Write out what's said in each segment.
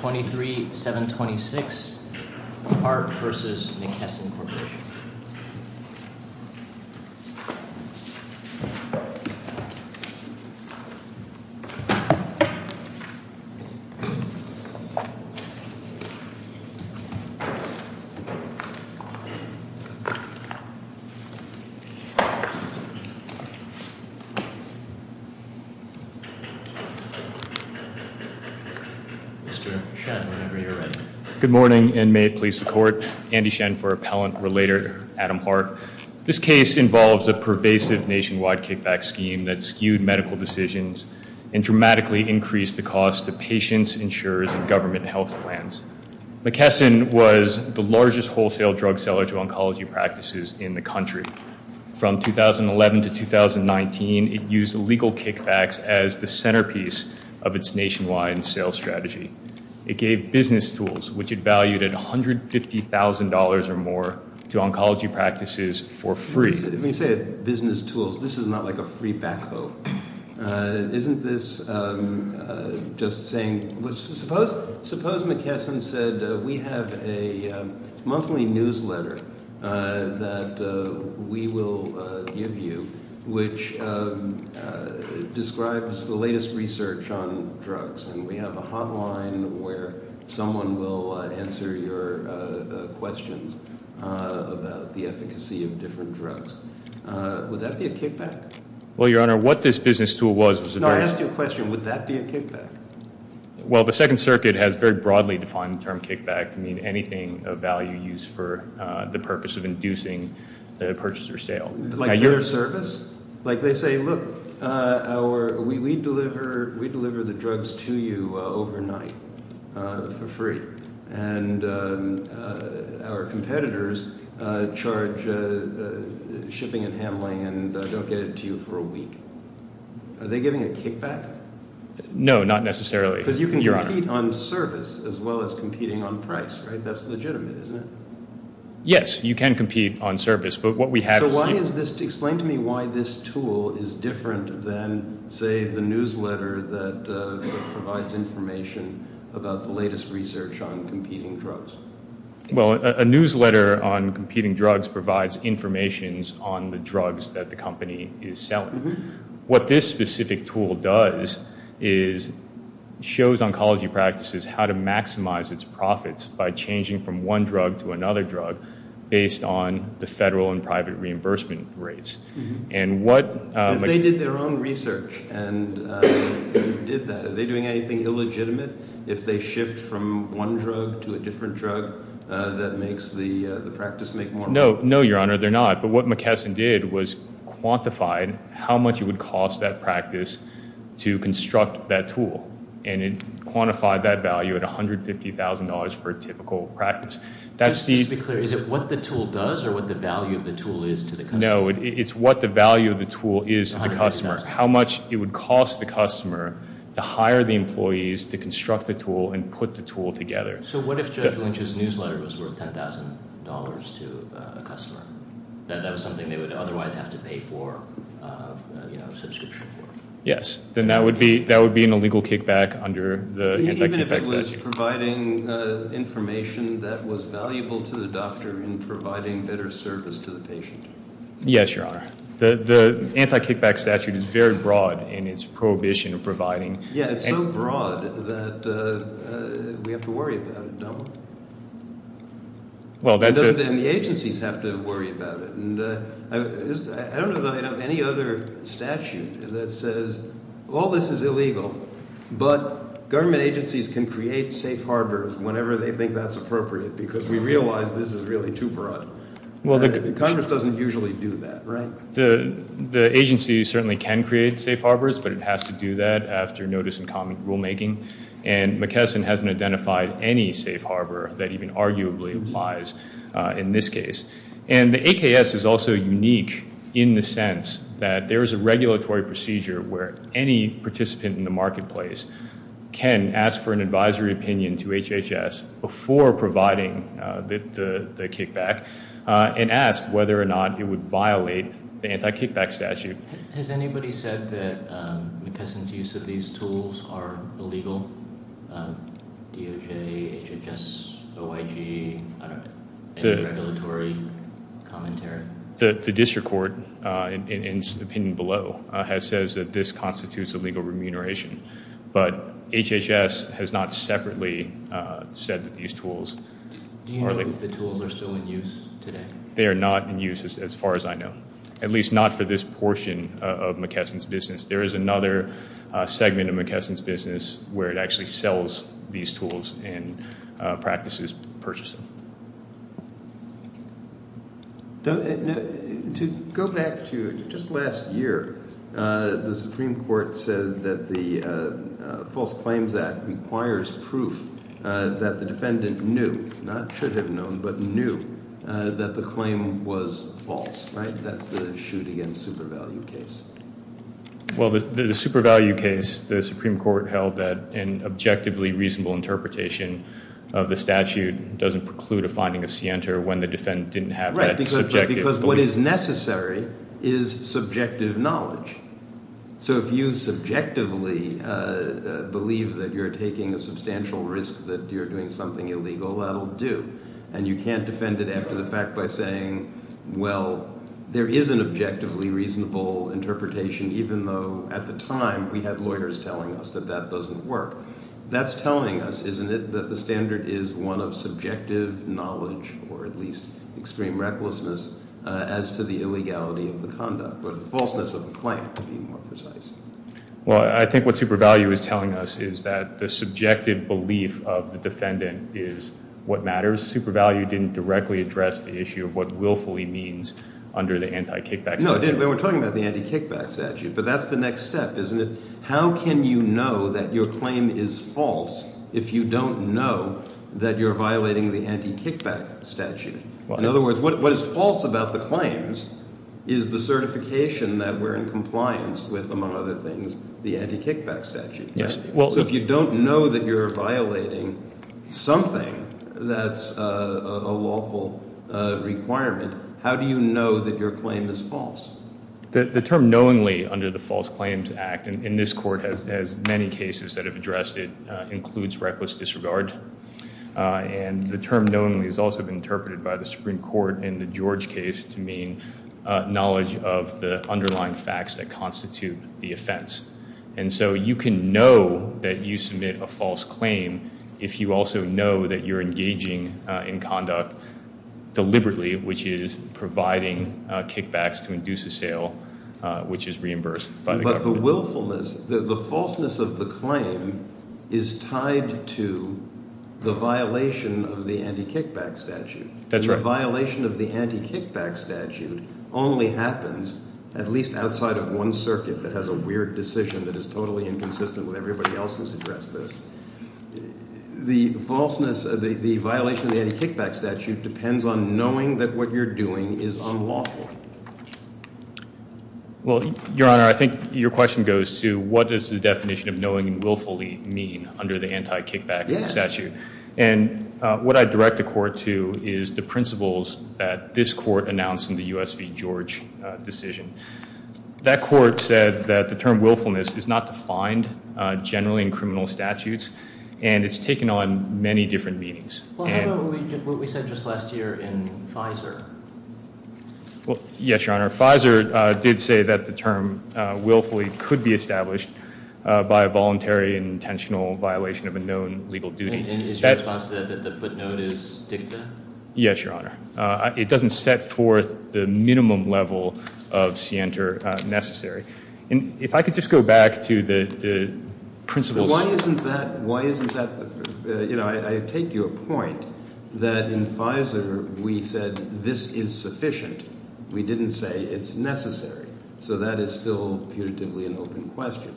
23-726 Art v. McKesson Corporation 23-726 Art v. McKesson Corporation Mr. Shen, whenever you're ready. Good morning and may it please the court. Andy Shen for Appellant Relator, Adam Hart. This case involves a pervasive nationwide kickback scheme that skewed medical decisions and dramatically increased the cost to patients, insurers, and government health plans. McKesson was the largest wholesale drug seller to oncology practices in the country. From 2011 to 2019, it used legal kickbacks as the centerpiece of its nationwide sales strategy. It gave business tools, which it valued at $150,000 or more, to oncology practices for free. When you say business tools, this is not like a free back boat. Isn't this just saying, suppose McKesson said, we have a monthly newsletter that we will give you, which describes the latest research on drugs. And we have a hotline where someone will answer your questions about the efficacy of different drugs. Would that be a kickback? Well, Your Honor, what this business tool was... No, I asked you a question. Would that be a kickback? Well, the Second Circuit has very broadly defined the term kickback to mean anything of value used for the purpose of inducing the purchase or sale. Like their service? Like they say, look, we deliver the drugs to you overnight for free. And our competitors charge shipping and handling and don't get it to you for a week. Are they giving a kickback? No, not necessarily. Because you can compete on service as well as competing on price, right? That's legitimate, isn't it? Yes, you can compete on service. Explain to me why this tool is different than, say, the newsletter that provides information about the latest research on competing drugs. Well, a newsletter on competing drugs provides information on the drugs that the company is selling. What this specific tool does is shows oncology practices how to maximize its profits by changing from one drug to another drug based on the federal and private reimbursement rates. If they did their own research and did that, are they doing anything illegitimate? If they shift from one drug to a different drug, that makes the practice make more money? No, Your Honor, they're not. But what McKesson did was quantified how much it would cost that practice to construct that tool. And it quantified that value at $150,000 for a typical practice. Just to be clear, is it what the tool does or what the value of the tool is to the customer? No, it's what the value of the tool is to the customer, how much it would cost the customer to hire the employees to construct the tool and put the tool together. So what if Judge Lynch's newsletter was worth $10,000 to a customer? That was something they would otherwise have to pay for a subscription for? Yes. Then that would be an illegal kickback under the anti-kickback statute. Even if it was providing information that was valuable to the doctor in providing better service to the patient? Yes, Your Honor. The anti-kickback statute is very broad in its prohibition of providing. Yeah, it's so broad that we have to worry about it, don't we? Well, that's a- And the agencies have to worry about it. I don't know that I know of any other statute that says all this is illegal, but government agencies can create safe harbors whenever they think that's appropriate because we realize this is really too broad. Congress doesn't usually do that, right? The agencies certainly can create safe harbors, but it has to do that after notice and comment rulemaking. And McKesson hasn't identified any safe harbor that even arguably applies in this case. And the AKS is also unique in the sense that there is a regulatory procedure where any participant in the marketplace can ask for an advisory opinion to HHS before providing the kickback and ask whether or not it would violate the anti-kickback statute. Has anybody said that McKesson's use of these tools are illegal? DOJ, HHS, OIG, any regulatory commentary? The district court, in the opinion below, has said that this constitutes illegal remuneration. But HHS has not separately said that these tools are illegal. Do you know if the tools are still in use today? They are not in use as far as I know, at least not for this portion of McKesson's business. There is another segment of McKesson's business where it actually sells these tools and practices purchasing. To go back to just last year, the Supreme Court said that the False Claims Act requires proof that the defendant knew, not should have known, but knew that the claim was false, right? That's the shoot-against-super-value case. Well, the super-value case, the Supreme Court held that an objectively reasonable interpretation of the statute doesn't preclude a finding of scienter when the defendant didn't have that subjective belief. Right, because what is necessary is subjective knowledge. So if you subjectively believe that you're taking a substantial risk that you're doing something illegal, that'll do. And you can't defend it after the fact by saying, well, there is an objectively reasonable interpretation, even though at the time we had lawyers telling us that that doesn't work. That's telling us, isn't it, that the standard is one of subjective knowledge, or at least extreme recklessness, as to the illegality of the conduct, or the falseness of the claim, to be more precise. Well, I think what super-value is telling us is that the subjective belief of the defendant is what matters. Super-value didn't directly address the issue of what willfully means under the anti-kickback statute. No, it didn't. We were talking about the anti-kickback statute, but that's the next step, isn't it? How can you know that your claim is false if you don't know that you're violating the anti-kickback statute? In other words, what is false about the claims is the certification that we're in compliance with, among other things, the anti-kickback statute. So if you don't know that you're violating something that's a lawful requirement, how do you know that your claim is false? The term knowingly under the False Claims Act in this court, as many cases that have addressed it, includes reckless disregard. And the term knowingly has also been interpreted by the Supreme Court in the George case to mean knowledge of the underlying facts that constitute the offense. And so you can know that you submit a false claim if you also know that you're engaging in conduct deliberately, which is providing kickbacks to induce assail, which is reimbursed by the government. But the lawfulness, the falseness of the claim is tied to the violation of the anti-kickback statute. That's right. And the violation of the anti-kickback statute only happens at least outside of one circuit that has a weird decision that is totally inconsistent with everybody else who's addressed this. The falseness, the violation of the anti-kickback statute depends on knowing that what you're doing is unlawful. Well, Your Honor, I think your question goes to what is the definition of knowing and willfully mean under the anti-kickback statute? Yes. And what I direct the court to is the principles that this court announced in the U.S. v. George decision. That court said that the term willfulness is not defined generally in criminal statutes, and it's taken on many different meanings. Well, how about what we said just last year in FISA? Well, yes, Your Honor. FISA did say that the term willfully could be established by a voluntary and intentional violation of a known legal duty. And is your response to that that the footnote is dicta? Yes, Your Honor. It doesn't set forth the minimum level of scienter necessary. If I could just go back to the principles. Why isn't that, you know, I take your point that in FISA we said this is sufficient. We didn't say it's necessary. So that is still putatively an open question.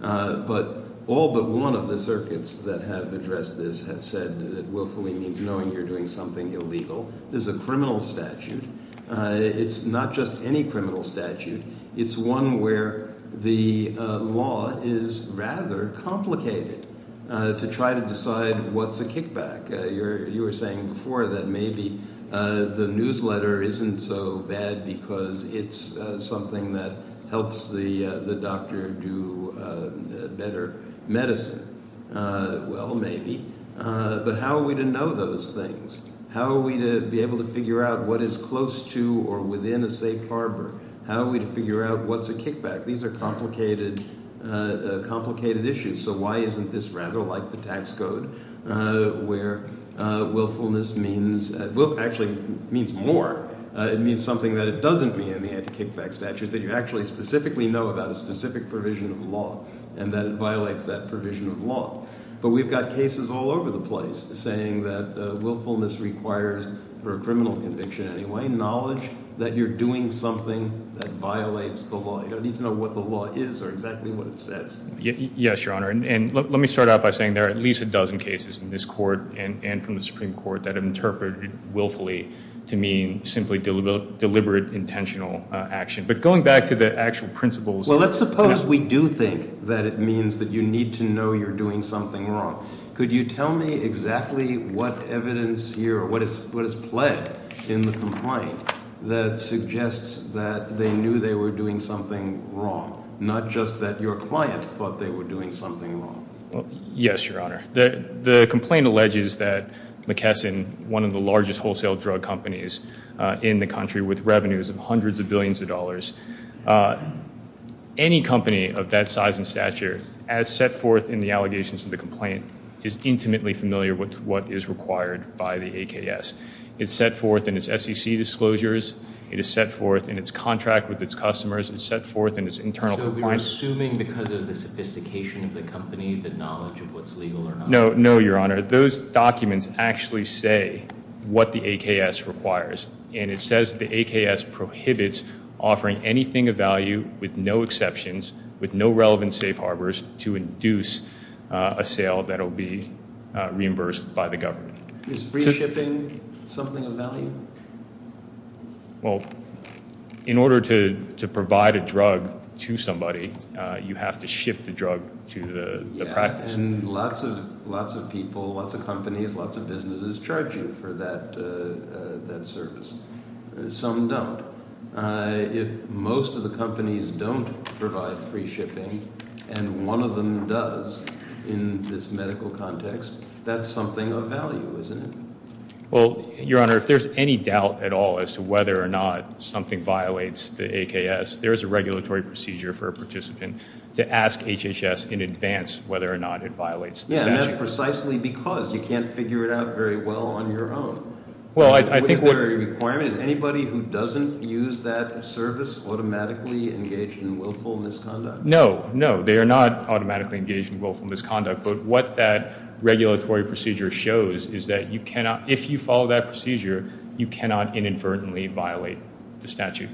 But all but one of the circuits that have addressed this have said that willfully means knowing you're doing something illegal. This is a criminal statute. It's not just any criminal statute. It's one where the law is rather complicated to try to decide what's a kickback. You were saying before that maybe the newsletter isn't so bad because it's something that helps the doctor do better medicine. Well, maybe. But how are we to know those things? How are we to be able to figure out what is close to or within a safe harbor? How are we to figure out what's a kickback? These are complicated issues. So why isn't this rather like the tax code where willfulness means – actually means more. It means something that it doesn't mean in the anti-kickback statute, that you actually specifically know about a specific provision of law and that it violates that provision of law. But we've got cases all over the place saying that willfulness requires, for a criminal conviction anyway, that you acknowledge that you're doing something that violates the law. You don't need to know what the law is or exactly what it says. Yes, Your Honor. And let me start out by saying there are at least a dozen cases in this court and from the Supreme Court that have interpreted willfully to mean simply deliberate, intentional action. But going back to the actual principles- Well, let's suppose we do think that it means that you need to know you're doing something wrong. Could you tell me exactly what evidence here or what is pledged in the complaint that suggests that they knew they were doing something wrong, not just that your client thought they were doing something wrong? Yes, Your Honor. The complaint alleges that McKesson, one of the largest wholesale drug companies in the country with revenues of hundreds of billions of dollars, any company of that size and stature, as set forth in the allegations of the complaint, is intimately familiar with what is required by the AKS. It's set forth in its SEC disclosures. It is set forth in its contract with its customers. It's set forth in its internal compliance- So we're assuming because of the sophistication of the company, the knowledge of what's legal or not? No, Your Honor. Those documents actually say what the AKS requires. And it says the AKS prohibits offering anything of value with no exceptions, with no relevant safe harbors, to induce a sale that will be reimbursed by the government. Is free shipping something of value? Well, in order to provide a drug to somebody, you have to ship the drug to the practice. And lots of people, lots of companies, lots of businesses charge you for that service. Some don't. If most of the companies don't provide free shipping, and one of them does in this medical context, that's something of value, isn't it? Well, Your Honor, if there's any doubt at all as to whether or not something violates the AKS, there is a regulatory procedure for a participant to ask HHS in advance whether or not it violates the statute. Yeah, and that's precisely because you can't figure it out very well on your own. Well, I think what- Is there a requirement? Is anybody who doesn't use that service automatically engaged in willful misconduct? No, no. They are not automatically engaged in willful misconduct. But what that regulatory procedure shows is that if you follow that procedure, you cannot inadvertently violate the statute.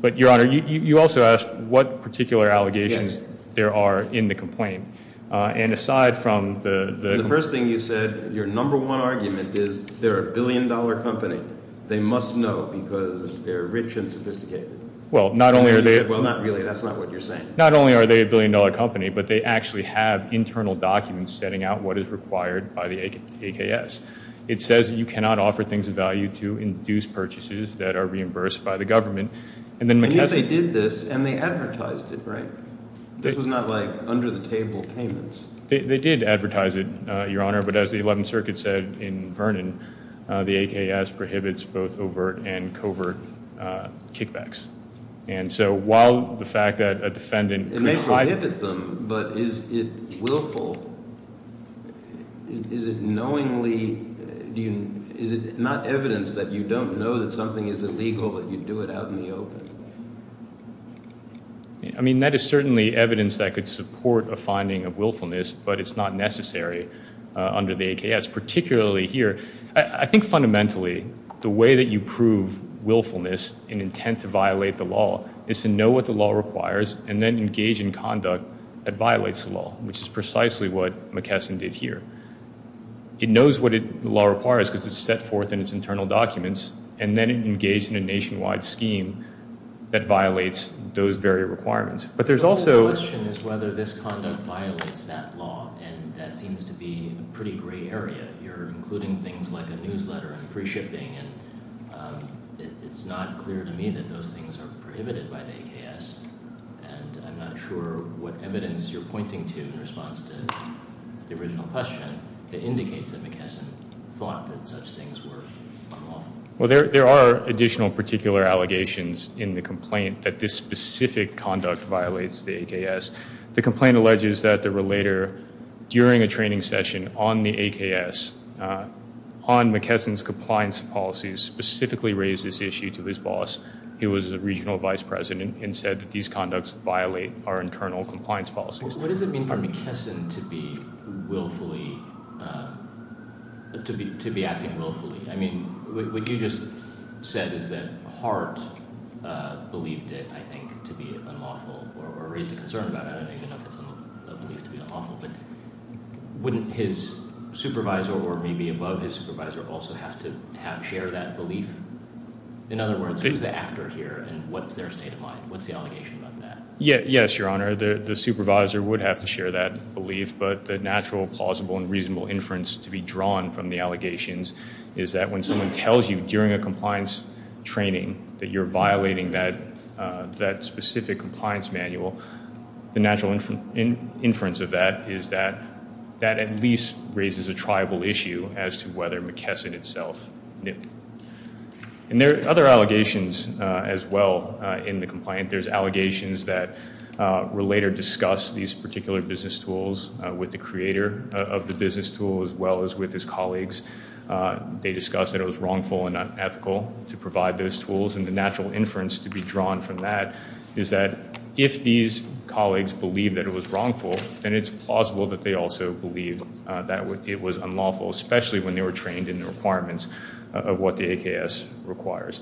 But, Your Honor, you also asked what particular allegations there are in the complaint. And aside from the- The first thing you said, your number one argument, is they're a billion-dollar company. They must know because they're rich and sophisticated. Well, not only are they- Well, not really. That's not what you're saying. Not only are they a billion-dollar company, but they actually have internal documents setting out what is required by the AKS. It says you cannot offer things of value to induce purchases that are reimbursed by the government. And then McKesson- And yet they did this, and they advertised it, right? This was not like under-the-table payments. They did advertise it, Your Honor. But as the Eleventh Circuit said in Vernon, the AKS prohibits both overt and covert kickbacks. And so while the fact that a defendant could- It may prohibit them, but is it willful? Is it knowingly- Is it not evidence that you don't know that something is illegal that you do it out in the open? I mean, that is certainly evidence that could support a finding of willfulness, but it's not necessary under the AKS, particularly here. I think fundamentally, the way that you prove willfulness and intent to violate the law is to know what the law requires and then engage in conduct that violates the law, which is precisely what McKesson did here. It knows what the law requires because it's set forth in its internal documents, and then it engaged in a nationwide scheme that violates those very requirements. But there's also- But the question is whether this conduct violates that law, and that seems to be a pretty gray area. You're including things like a newsletter and free shipping, and it's not clear to me that those things are prohibited by the AKS. And I'm not sure what evidence you're pointing to in response to the original question that indicates that McKesson thought that such things were unlawful. Well, there are additional particular allegations in the complaint that this specific conduct violates the AKS. The complaint alleges that the relator, during a training session on the AKS, on McKesson's compliance policies, specifically raised this issue to his boss. He was the regional vice president and said that these conducts violate our internal compliance policies. What does it mean for McKesson to be willfully-to be acting willfully? I mean, what you just said is that Hart believed it, I think, to be unlawful or raised a concern about it. I don't even know if it's a belief to be unlawful. But wouldn't his supervisor or maybe above his supervisor also have to share that belief? In other words, who's the actor here, and what's their state of mind? What's the allegation about that? Yes, Your Honor. The supervisor would have to share that belief. But the natural, plausible, and reasonable inference to be drawn from the allegations is that when someone tells you during a compliance training that you're violating that specific compliance manual, the natural inference of that is that that at least raises a triable issue as to whether McKesson itself knew. And there are other allegations as well in the complaint. There's allegations that were later discussed, these particular business tools, with the creator of the business tool as well as with his colleagues. They discussed that it was wrongful and unethical to provide those tools, and the natural inference to be drawn from that is that if these colleagues believe that it was wrongful, then it's plausible that they also believe that it was unlawful, especially when they were trained in the requirements of what the AKS requires.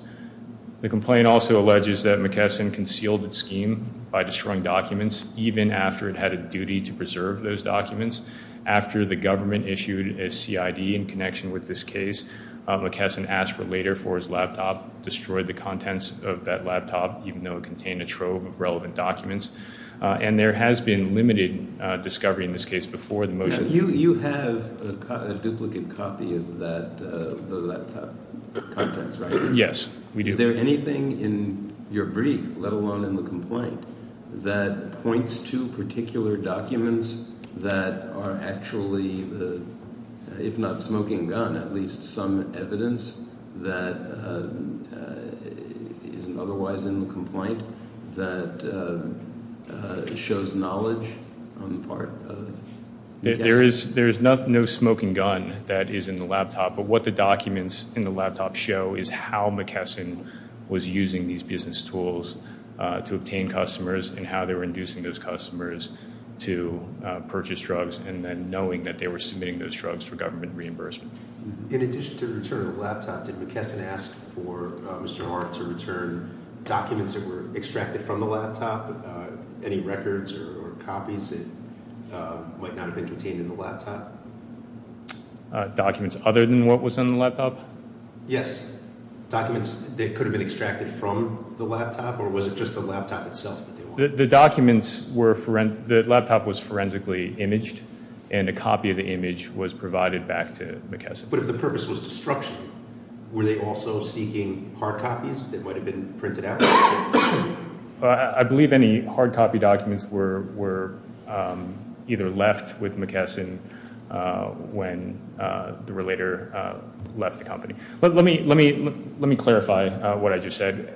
The complaint also alleges that McKesson concealed its scheme by destroying documents, even after it had a duty to preserve those documents. After the government issued a CID in connection with this case, McKesson asked for later for his laptop, destroyed the contents of that laptop, even though it contained a trove of relevant documents. And there has been limited discovery in this case before the motion. You have a duplicate copy of the laptop contents, right? Yes, we do. Is there anything in your brief, let alone in the complaint, that points to particular documents that are actually, if not smoking gun, at least some evidence that isn't otherwise in the complaint that shows knowledge on the part of McKesson? There is no smoking gun that is in the laptop, but what the documents in the laptop show is how McKesson was using these business tools to obtain customers and how they were inducing those customers to purchase drugs and then knowing that they were submitting those drugs for government reimbursement. In addition to the return of the laptop, did McKesson ask for Mr. Hart to return documents that were extracted from the laptop, any records or copies that might not have been contained in the laptop? Documents other than what was in the laptop? Yes, documents that could have been extracted from the laptop, or was it just the laptop itself? The documents were, the laptop was forensically imaged, and a copy of the image was provided back to McKesson. But if the purpose was destruction, were they also seeking hard copies that might have been printed out? I believe any hard copy documents were either left with McKesson when the relator left the company. Let me clarify what I just said.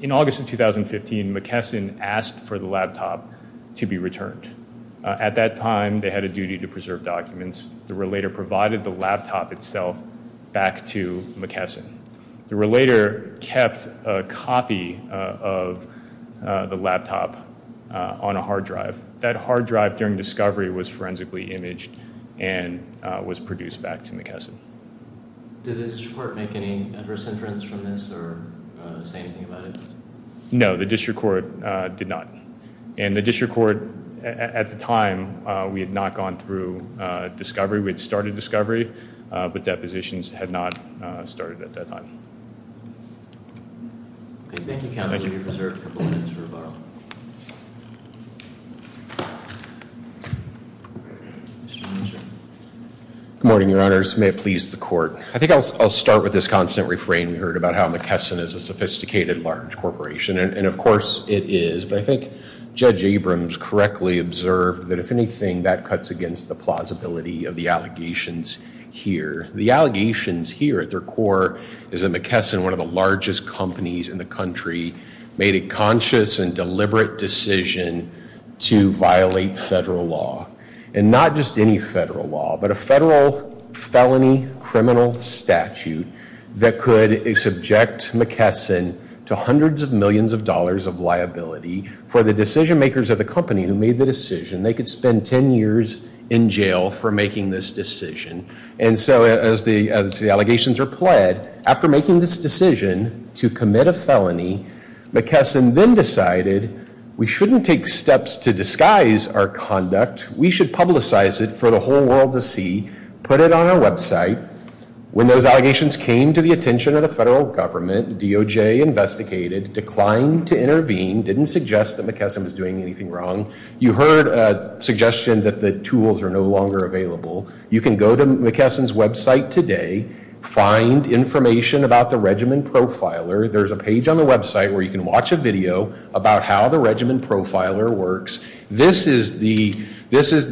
In August of 2015, McKesson asked for the laptop to be returned. At that time, they had a duty to preserve documents. The relator provided the laptop itself back to McKesson. The relator kept a copy of the laptop on a hard drive. That hard drive during discovery was forensically imaged and was produced back to McKesson. Did the district court make any adverse inference from this or say anything about it? No, the district court did not. And the district court, at the time, we had not gone through discovery. We had started discovery, but depositions had not started at that time. Thank you, Counselor, for your preserved components for rebuttal. Good morning, Your Honors. May it please the court. I think I'll start with this constant refrain we heard about how McKesson is a sophisticated, large corporation. And, of course, it is. But I think Judge Abrams correctly observed that, if anything, that cuts against the plausibility of the allegations here. The allegations here at their core is that McKesson, one of the largest companies in the country, made a conscious and deliberate decision to violate federal law. And not just any federal law, but a federal felony criminal statute that could subject McKesson to hundreds of millions of dollars of liability for the decision makers of the company who made the decision. They could spend 10 years in jail for making this decision. And so, as the allegations are pled, after making this decision to commit a felony, McKesson then decided we shouldn't take steps to disguise our conduct. We should publicize it for the whole world to see, put it on our website. When those allegations came to the attention of the federal government, DOJ investigated, declined to intervene, didn't suggest that McKesson was doing anything wrong. You heard a suggestion that the tools are no longer available. You can go to McKesson's website today, find information about the regimen profiler. There's a page on the website where you can watch a video about how the regimen profiler works. This is the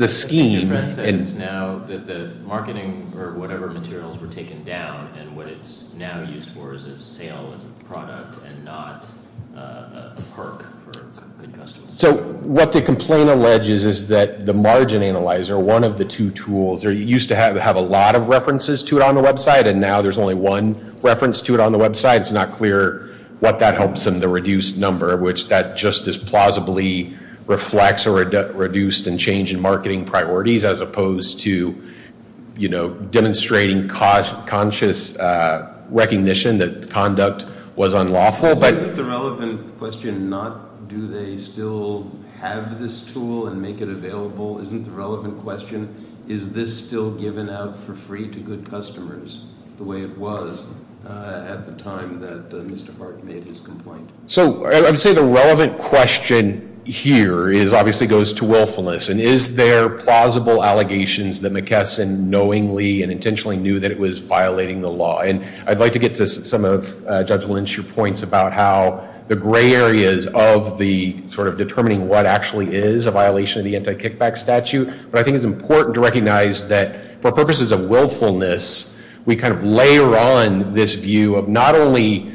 scheme. The marketing or whatever materials were taken down, and what it's now used for is a sale as a product and not a perk for some good customers. So what the complaint alleges is that the margin analyzer, one of the two tools, used to have a lot of references to it on the website, and now there's only one reference to it on the website. It's not clear what that helps in the reduced number, which that just as plausibly reflects a reduced in change in marketing priorities, as opposed to demonstrating conscious recognition that conduct was unlawful. But- Isn't the relevant question not, do they still have this tool and make it available? Isn't the relevant question, is this still given out for free to good customers, the way it was at the time that Mr. Barton made his complaint? So I would say the relevant question here is obviously goes to willfulness, and is there plausible allegations that McKesson knowingly and intentionally knew that it was violating the law? And I'd like to get to some of Judge Lynch's points about how the gray areas of the sort of determining what actually is a violation of the anti-kickback statute, but I think it's important to recognize that for purposes of willfulness, we kind of layer on this view of not only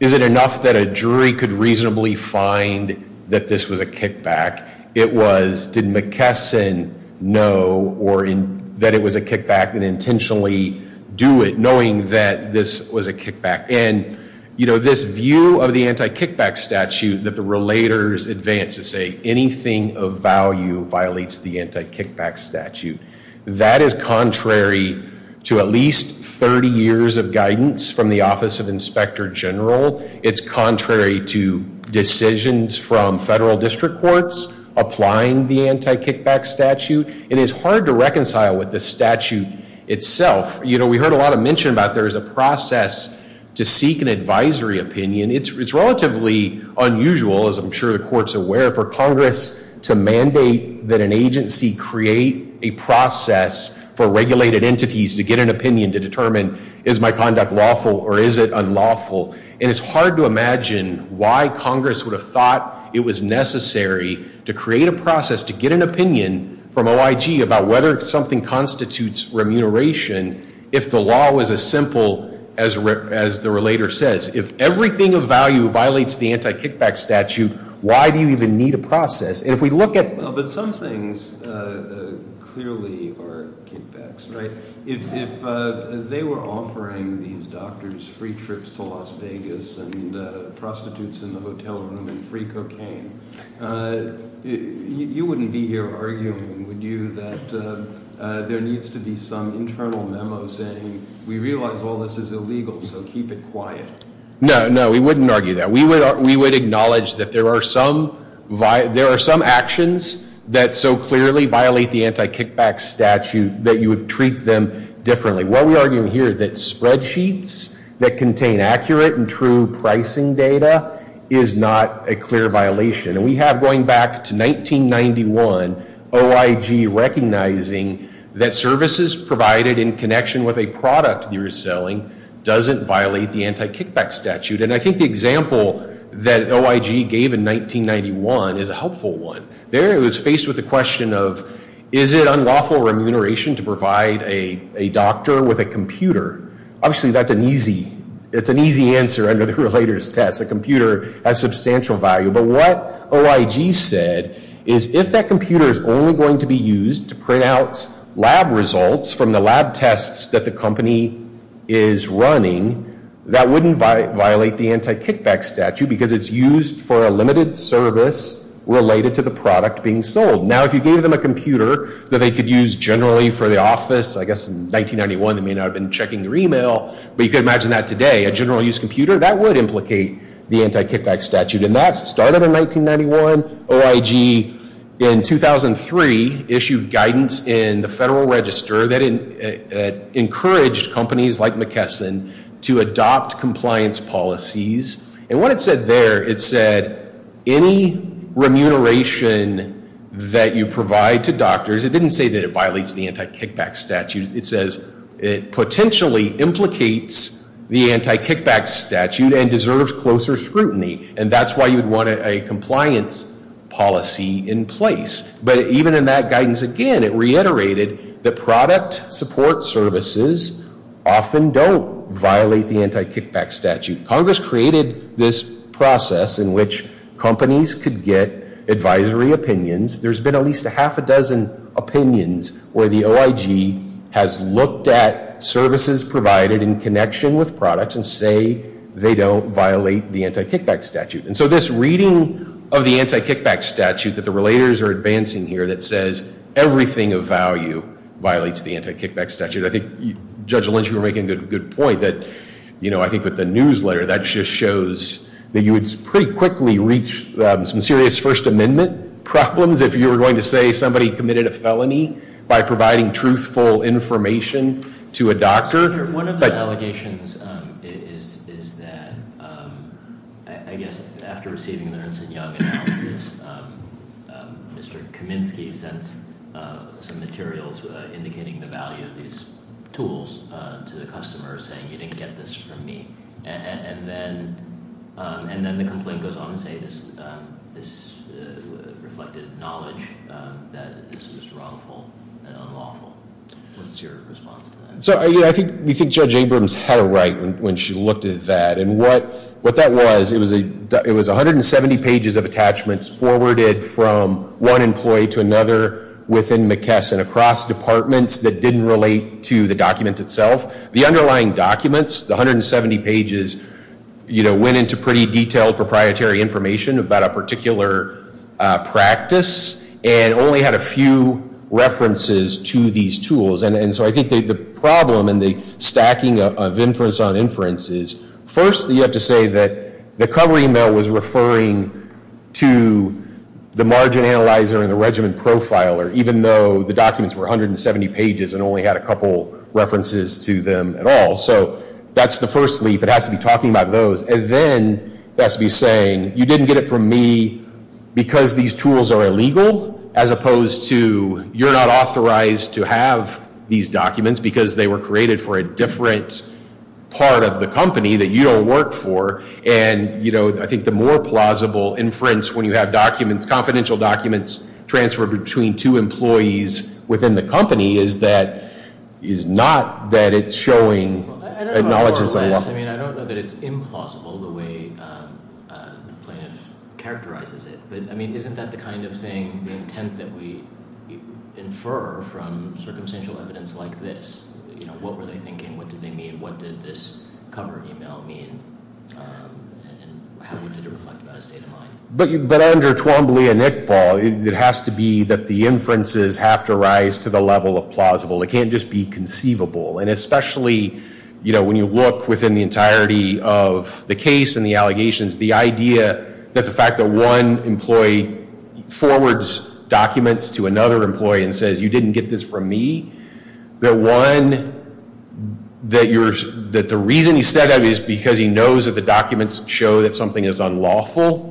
is it enough that a jury could reasonably find that this was a kickback, it was, did McKesson know that it was a kickback and intentionally do it knowing that this was a kickback? And this view of the anti-kickback statute that the relators advance to say anything of value violates the anti-kickback statute, that is contrary to at least 30 years of guidance from the Office of Inspector General. It's contrary to decisions from federal district courts applying the anti-kickback statute. It is hard to reconcile with the statute itself. You know, we heard a lot of mention about there is a process to seek an advisory opinion. It's relatively unusual, as I'm sure the court's aware, for Congress to mandate that an agency create a process for regulated entities to get an opinion to determine is my conduct lawful or is it unlawful? And it's hard to imagine why Congress would have thought it was necessary to create a process to get an opinion from OIG about whether something constitutes remuneration if the law was as simple as the relator says. If everything of value violates the anti-kickback statute, why do you even need a process? And if we look at- But some things clearly are kickbacks, right? If they were offering these doctors free trips to Las Vegas and prostitutes in the hotel room and free cocaine, you wouldn't be here arguing, would you, that there needs to be some internal memo saying, we realize all this is illegal, so keep it quiet. No, no, we wouldn't argue that. We would acknowledge that there are some actions that so clearly violate the anti-kickback statute that you would treat them differently. What we argue here is that spreadsheets that contain accurate and true pricing data is not a clear violation. And we have, going back to 1991, OIG recognizing that services provided in connection with a product you're selling doesn't violate the anti-kickback statute. And I think the example that OIG gave in 1991 is a helpful one. There it was faced with the question of, is it unlawful remuneration to provide a doctor with a computer? Obviously, that's an easy answer under the relator's test. A computer has substantial value. But what OIG said is, if that computer is only going to be used to print out lab results from the lab tests that the company is running, that wouldn't violate the anti-kickback statute because it's used for a limited service related to the product being sold. Now, if you gave them a computer that they could use generally for the office, I guess in 1991 they may not have been checking their email, but you could imagine that today, a general-use computer, that would implicate the anti-kickback statute. And that started in 1991. OIG, in 2003, issued guidance in the Federal Register that encouraged companies like McKesson to adopt compliance policies. And what it said there, it said any remuneration that you provide to doctors, it didn't say that it violates the anti-kickback statute. It says it potentially implicates the anti-kickback statute and deserves closer scrutiny. And that's why you'd want a compliance policy in place. But even in that guidance, again, it reiterated that product support services often don't violate the anti-kickback statute. Congress created this process in which companies could get advisory opinions. There's been at least a half a dozen opinions where the OIG has looked at services provided in connection with products and say they don't violate the anti-kickback statute. And so this reading of the anti-kickback statute that the relators are advancing here that says everything of value violates the anti-kickback statute. I think Judge Lynch, you were making a good point that I think with the newsletter, that just shows that you would pretty quickly reach some serious First Amendment problems if you were going to say somebody committed a felony by providing truthful information to a doctor. One of the allegations is that I guess after receiving the Ernst and Young analysis, Mr. Kaminsky sends some materials indicating the value of these tools to the customer saying you didn't get this from me. And then the complaint goes on to say this reflected knowledge that this was wrongful and unlawful. What's your response to that? I think Judge Abrams had it right when she looked at that. And what that was, it was 170 pages of attachments forwarded from one employee to another within McKesson across departments that didn't relate to the document itself. The underlying documents, the 170 pages, went into pretty detailed proprietary information about a particular practice and only had a few references to these tools. And so I think the problem in the stacking of inference on inference is, first you have to say that the cover email was referring to the margin analyzer and the regimen profiler, even though the documents were 170 pages and only had a couple references to them at all. So that's the first leap. It has to be talking about those. And then it has to be saying you didn't get it from me because these tools are illegal, as opposed to you're not authorized to have these documents because they were created for a different part of the company that you don't work for. And I think the more plausible inference when you have documents, confidential documents, transferred between two employees within the company is not that it's showing a knowledge that's unlawful. I don't know that it's implausible the way the plaintiff characterizes it. But isn't that the kind of thing, the intent that we infer from circumstantial evidence like this? What were they thinking? What did they mean? What did this cover email mean? And how would it reflect about a state of mind? But under Twombly and Iqbal, it has to be that the inferences have to rise to the level of plausible. It can't just be conceivable. And especially when you look within the entirety of the case and the allegations, the idea that the fact that one employee forwards documents to another employee and says, you didn't get this from me. That one, that the reason he said that is because he knows that the documents show that something is unlawful.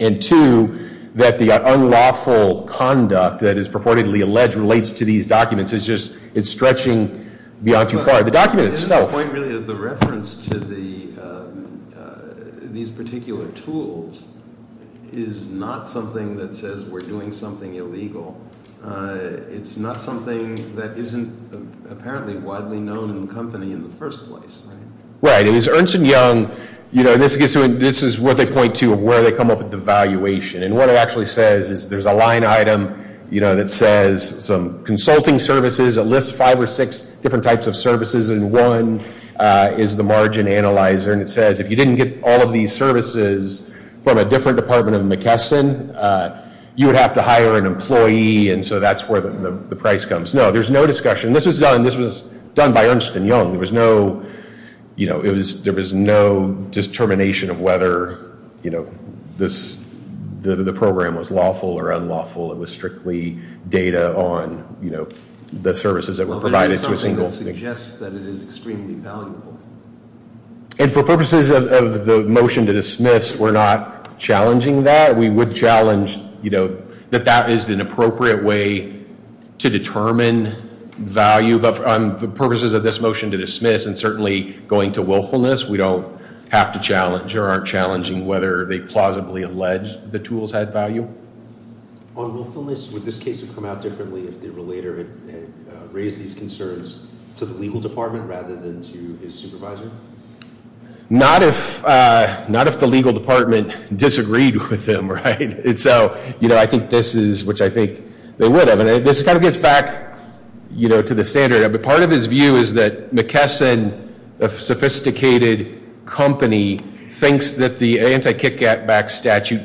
And two, that the unlawful conduct that is purportedly alleged relates to these documents. It's stretching beyond too far. The document itself- The point really is the reference to these particular tools is not something that says we're doing something illegal. It's not something that isn't apparently widely known in the company in the first place. Right. It is Ernst & Young. This is what they point to of where they come up with the valuation. And what it actually says is there's a line item that says some consulting services. It lists five or six different types of services. And one is the margin analyzer. And it says if you didn't get all of these services from a different department of McKesson, you would have to hire an employee. And so that's where the price comes. No, there's no discussion. This was done by Ernst & Young. There was no determination of whether the program was lawful or unlawful. It was strictly data on the services that were provided to a single- But it is something that suggests that it is extremely valuable. And for purposes of the motion to dismiss, we're not challenging that. We would challenge that that is an appropriate way to determine value. But for purposes of this motion to dismiss and certainly going to willfulness, we don't have to challenge or aren't challenging whether they plausibly allege the tools had value. On willfulness, would this case have come out differently if the relator had raised these concerns to the legal department rather than to his supervisor? Not if the legal department disagreed with him. And so I think this is which I think they would have. And this kind of gets back to the standard. Part of his view is that McKesson, a sophisticated company, thinks that the anti-kickback statute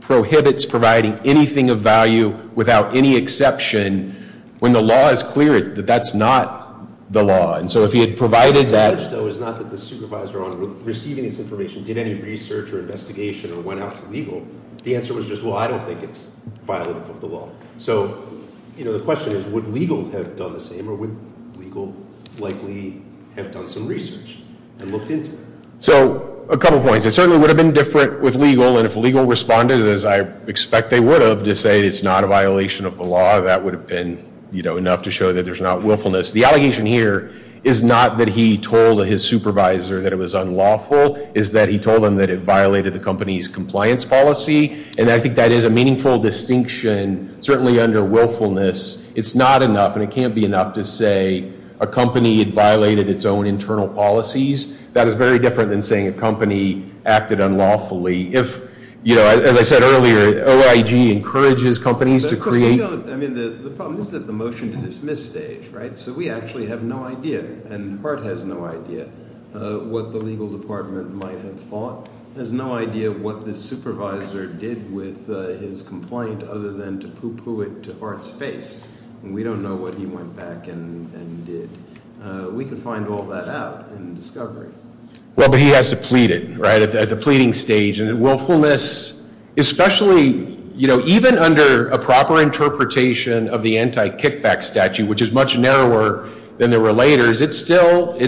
prohibits providing anything of value without any exception when the law is clear that that's not the law. And so if he had provided that- The challenge, though, is not that the supervisor on receiving this information did any research or investigation or went out to legal. The answer was just, well, I don't think it's violent of the law. So the question is, would legal have done the same or would legal likely have done some research and looked into it? So a couple points. It certainly would have been different with legal. And if legal responded, as I expect they would have, to say it's not a violation of the law, that would have been enough to show that there's not willfulness. The allegation here is not that he told his supervisor that it was unlawful. It's that he told them that it violated the company's compliance policy. And I think that is a meaningful distinction, certainly under willfulness. It's not enough, and it can't be enough, to say a company violated its own internal policies. That is very different than saying a company acted unlawfully. If, you know, as I said earlier, OIG encourages companies to create- I mean, the problem is that the motion to dismiss stage, right? So we actually have no idea, and Hart has no idea, what the legal department might have thought. He has no idea what the supervisor did with his complaint other than to poo-poo it to Hart's face. And we don't know what he went back and did. We could find all that out in discovery. Well, but he has to plead it, right, at the pleading stage. And willfulness, especially, you know, even under a proper interpretation of the anti-kickback statute, which is much narrower than the relators, it's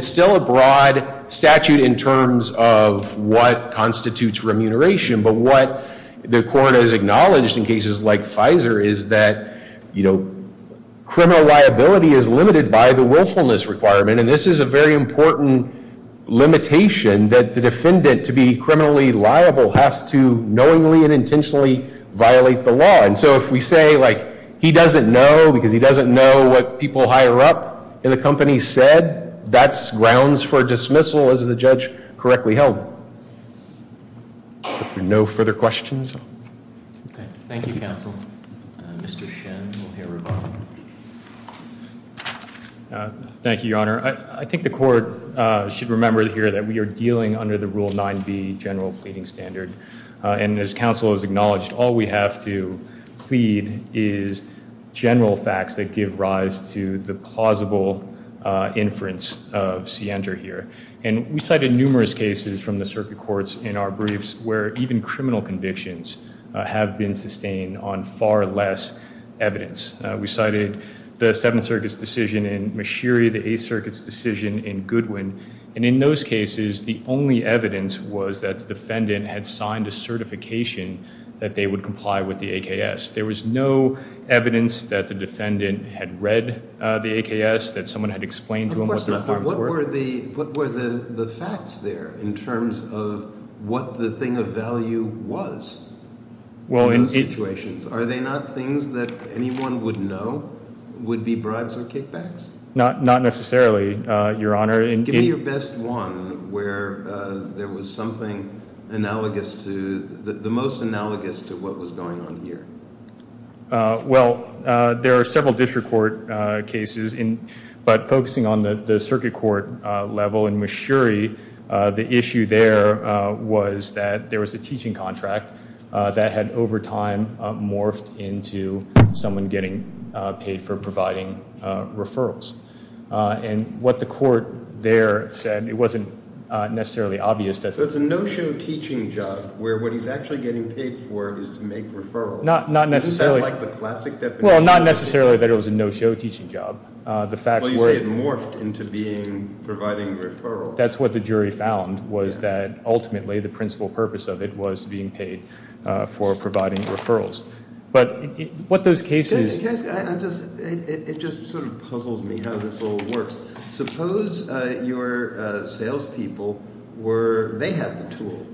still a broad statute in terms of what constitutes remuneration. But what the court has acknowledged in cases like Pfizer is that, you know, criminal liability is limited by the willfulness requirement. And this is a very important limitation, that the defendant, to be criminally liable, has to knowingly and intentionally violate the law. And so if we say, like, he doesn't know because he doesn't know what people higher up in the company said, that's grounds for dismissal, as the judge correctly held. No further questions? Okay. Thank you, counsel. Mr. Shen, we'll hear revolving. Thank you, Your Honor. I think the court should remember here that we are dealing under the Rule 9b general pleading standard. And as counsel has acknowledged, all we have to plead is general facts that give rise to the plausible inference of Sienter here. And we cited numerous cases from the circuit courts in our briefs where even criminal convictions have been sustained on far less evidence. We cited the Seventh Circuit's decision in Mashiri, the Eighth Circuit's decision in Goodwin. And in those cases, the only evidence was that the defendant had signed a certification that they would comply with the AKS. There was no evidence that the defendant had read the AKS, that someone had explained to him what the requirements were. Of course not. But what were the facts there in terms of what the thing of value was in those situations? Are they not things that anyone would know would be bribes or kickbacks? Not necessarily, Your Honor. Give me your best one where there was something analogous to, the most analogous to what was going on here. Well, there are several district court cases, but focusing on the circuit court level in Mashiri, the issue there was that there was a teaching contract that had over time morphed into someone getting paid for providing referrals. And what the court there said, it wasn't necessarily obvious. So it's a no-show teaching job where what he's actually getting paid for is to make referrals. Not necessarily. Isn't that like the classic definition? Well, not necessarily that it was a no-show teaching job. Well, you say it morphed into being providing referrals. That's what the jury found was that ultimately the principal purpose of it was being paid for providing referrals. But what those cases- It just sort of puzzles me how this all works. Suppose your salespeople were, they have the tool.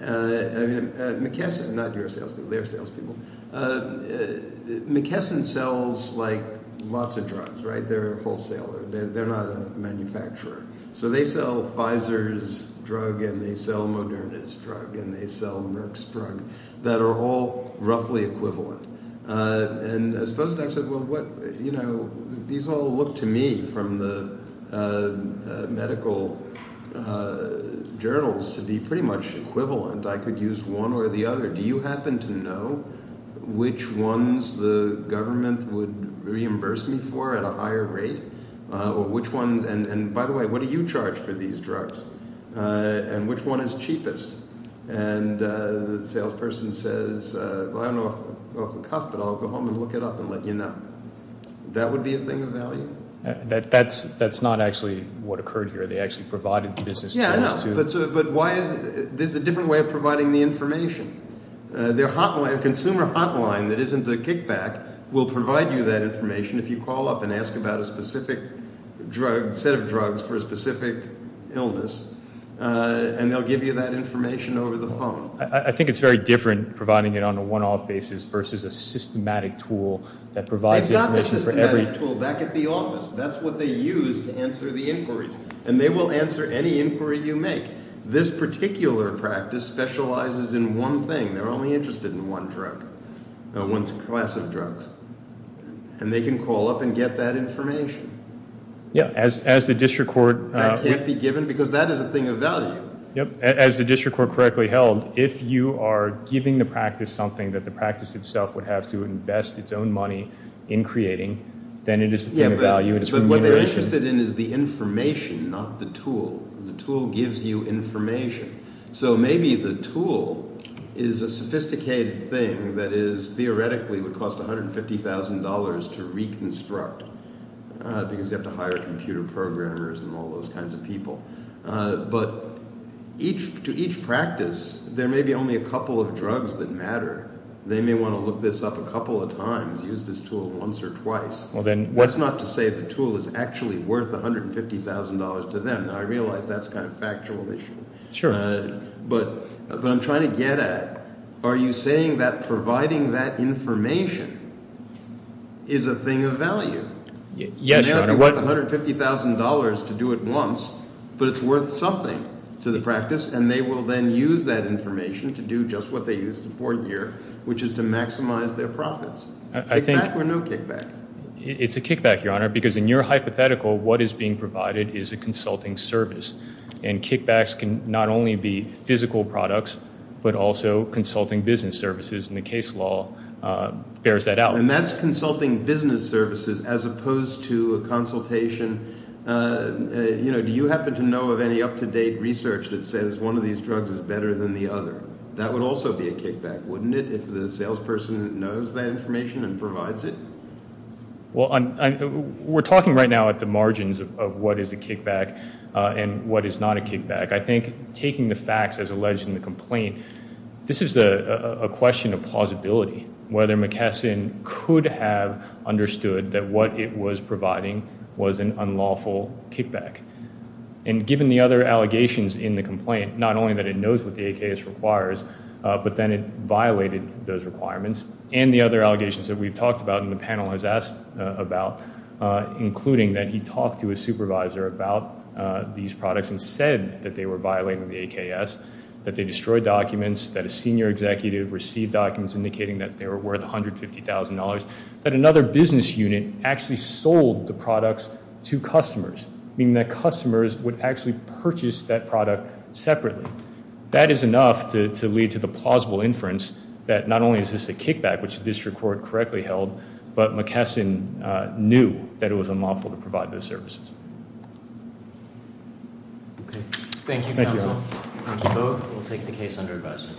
McKesson, not your salespeople, their salespeople. McKesson sells, like, lots of drugs, right? They're a wholesaler. They're not a manufacturer. So they sell Pfizer's drug and they sell Moderna's drug and they sell Merck's drug that are all roughly equivalent. And suppose I said, well, what – these all look to me from the medical journals to be pretty much equivalent. I could use one or the other. Do you happen to know which ones the government would reimburse me for at a higher rate or which ones – and by the way, what do you charge for these drugs and which one is cheapest? And the salesperson says, well, I don't know off the cuff, but I'll go home and look it up and let you know. That would be a thing of value? That's not actually what occurred here. They actually provided business terms to- Yeah, I know. But why is – there's a different way of providing the information. Their hotline, a consumer hotline that isn't a kickback will provide you that information. If you call up and ask about a specific drug – set of drugs for a specific illness, and they'll give you that information over the phone. I think it's very different providing it on a one-off basis versus a systematic tool that provides information for every- They've got the systematic tool back at the office. That's what they use to answer the inquiries, and they will answer any inquiry you make. This particular practice specializes in one thing. They're only interested in one drug, one class of drugs, and they can call up and get that information. Yeah, as the district court- That can't be given because that is a thing of value. Yep, as the district court correctly held, if you are giving the practice something that the practice itself would have to invest its own money in creating, then it is a thing of value. Yeah, but what they're interested in is the information, not the tool. The tool gives you information. So maybe the tool is a sophisticated thing that theoretically would cost $150,000 to reconstruct because you have to hire computer programmers and all those kinds of people. But to each practice, there may be only a couple of drugs that matter. They may want to look this up a couple of times, use this tool once or twice. That's not to say the tool is actually worth $150,000 to them. Now, I realize that's kind of a factual issue. Sure. But what I'm trying to get at, are you saying that providing that information is a thing of value? Yes, Your Honor. It may not be worth $150,000 to do it once, but it's worth something to the practice, and they will then use that information to do just what they used to for a year, which is to maximize their profits. I think- Kickback or no kickback? It's a kickback, Your Honor, because in your hypothetical, what is being provided is a consulting service. And kickbacks can not only be physical products but also consulting business services, and the case law bears that out. And that's consulting business services as opposed to a consultation. You know, do you happen to know of any up-to-date research that says one of these drugs is better than the other? That would also be a kickback, wouldn't it, if the salesperson knows that information and provides it? Well, we're talking right now at the margins of what is a kickback and what is not a kickback. I think taking the facts as alleged in the complaint, this is a question of plausibility, whether McKesson could have understood that what it was providing was an unlawful kickback. And given the other allegations in the complaint, not only that it knows what the AKS requires, but then it violated those requirements and the other allegations that we've talked about and the panel has asked about, including that he talked to his supervisor about these products and said that they were violating the AKS, that they destroyed documents, that a senior executive received documents indicating that they were worth $150,000, that another business unit actually sold the products to customers, meaning that customers would actually purchase that product separately. That is enough to lead to the plausible inference that not only is this a kickback, which the district court correctly held, but McKesson knew that it was unlawful to provide those services. Thank you, counsel. We'll take the case under advisement.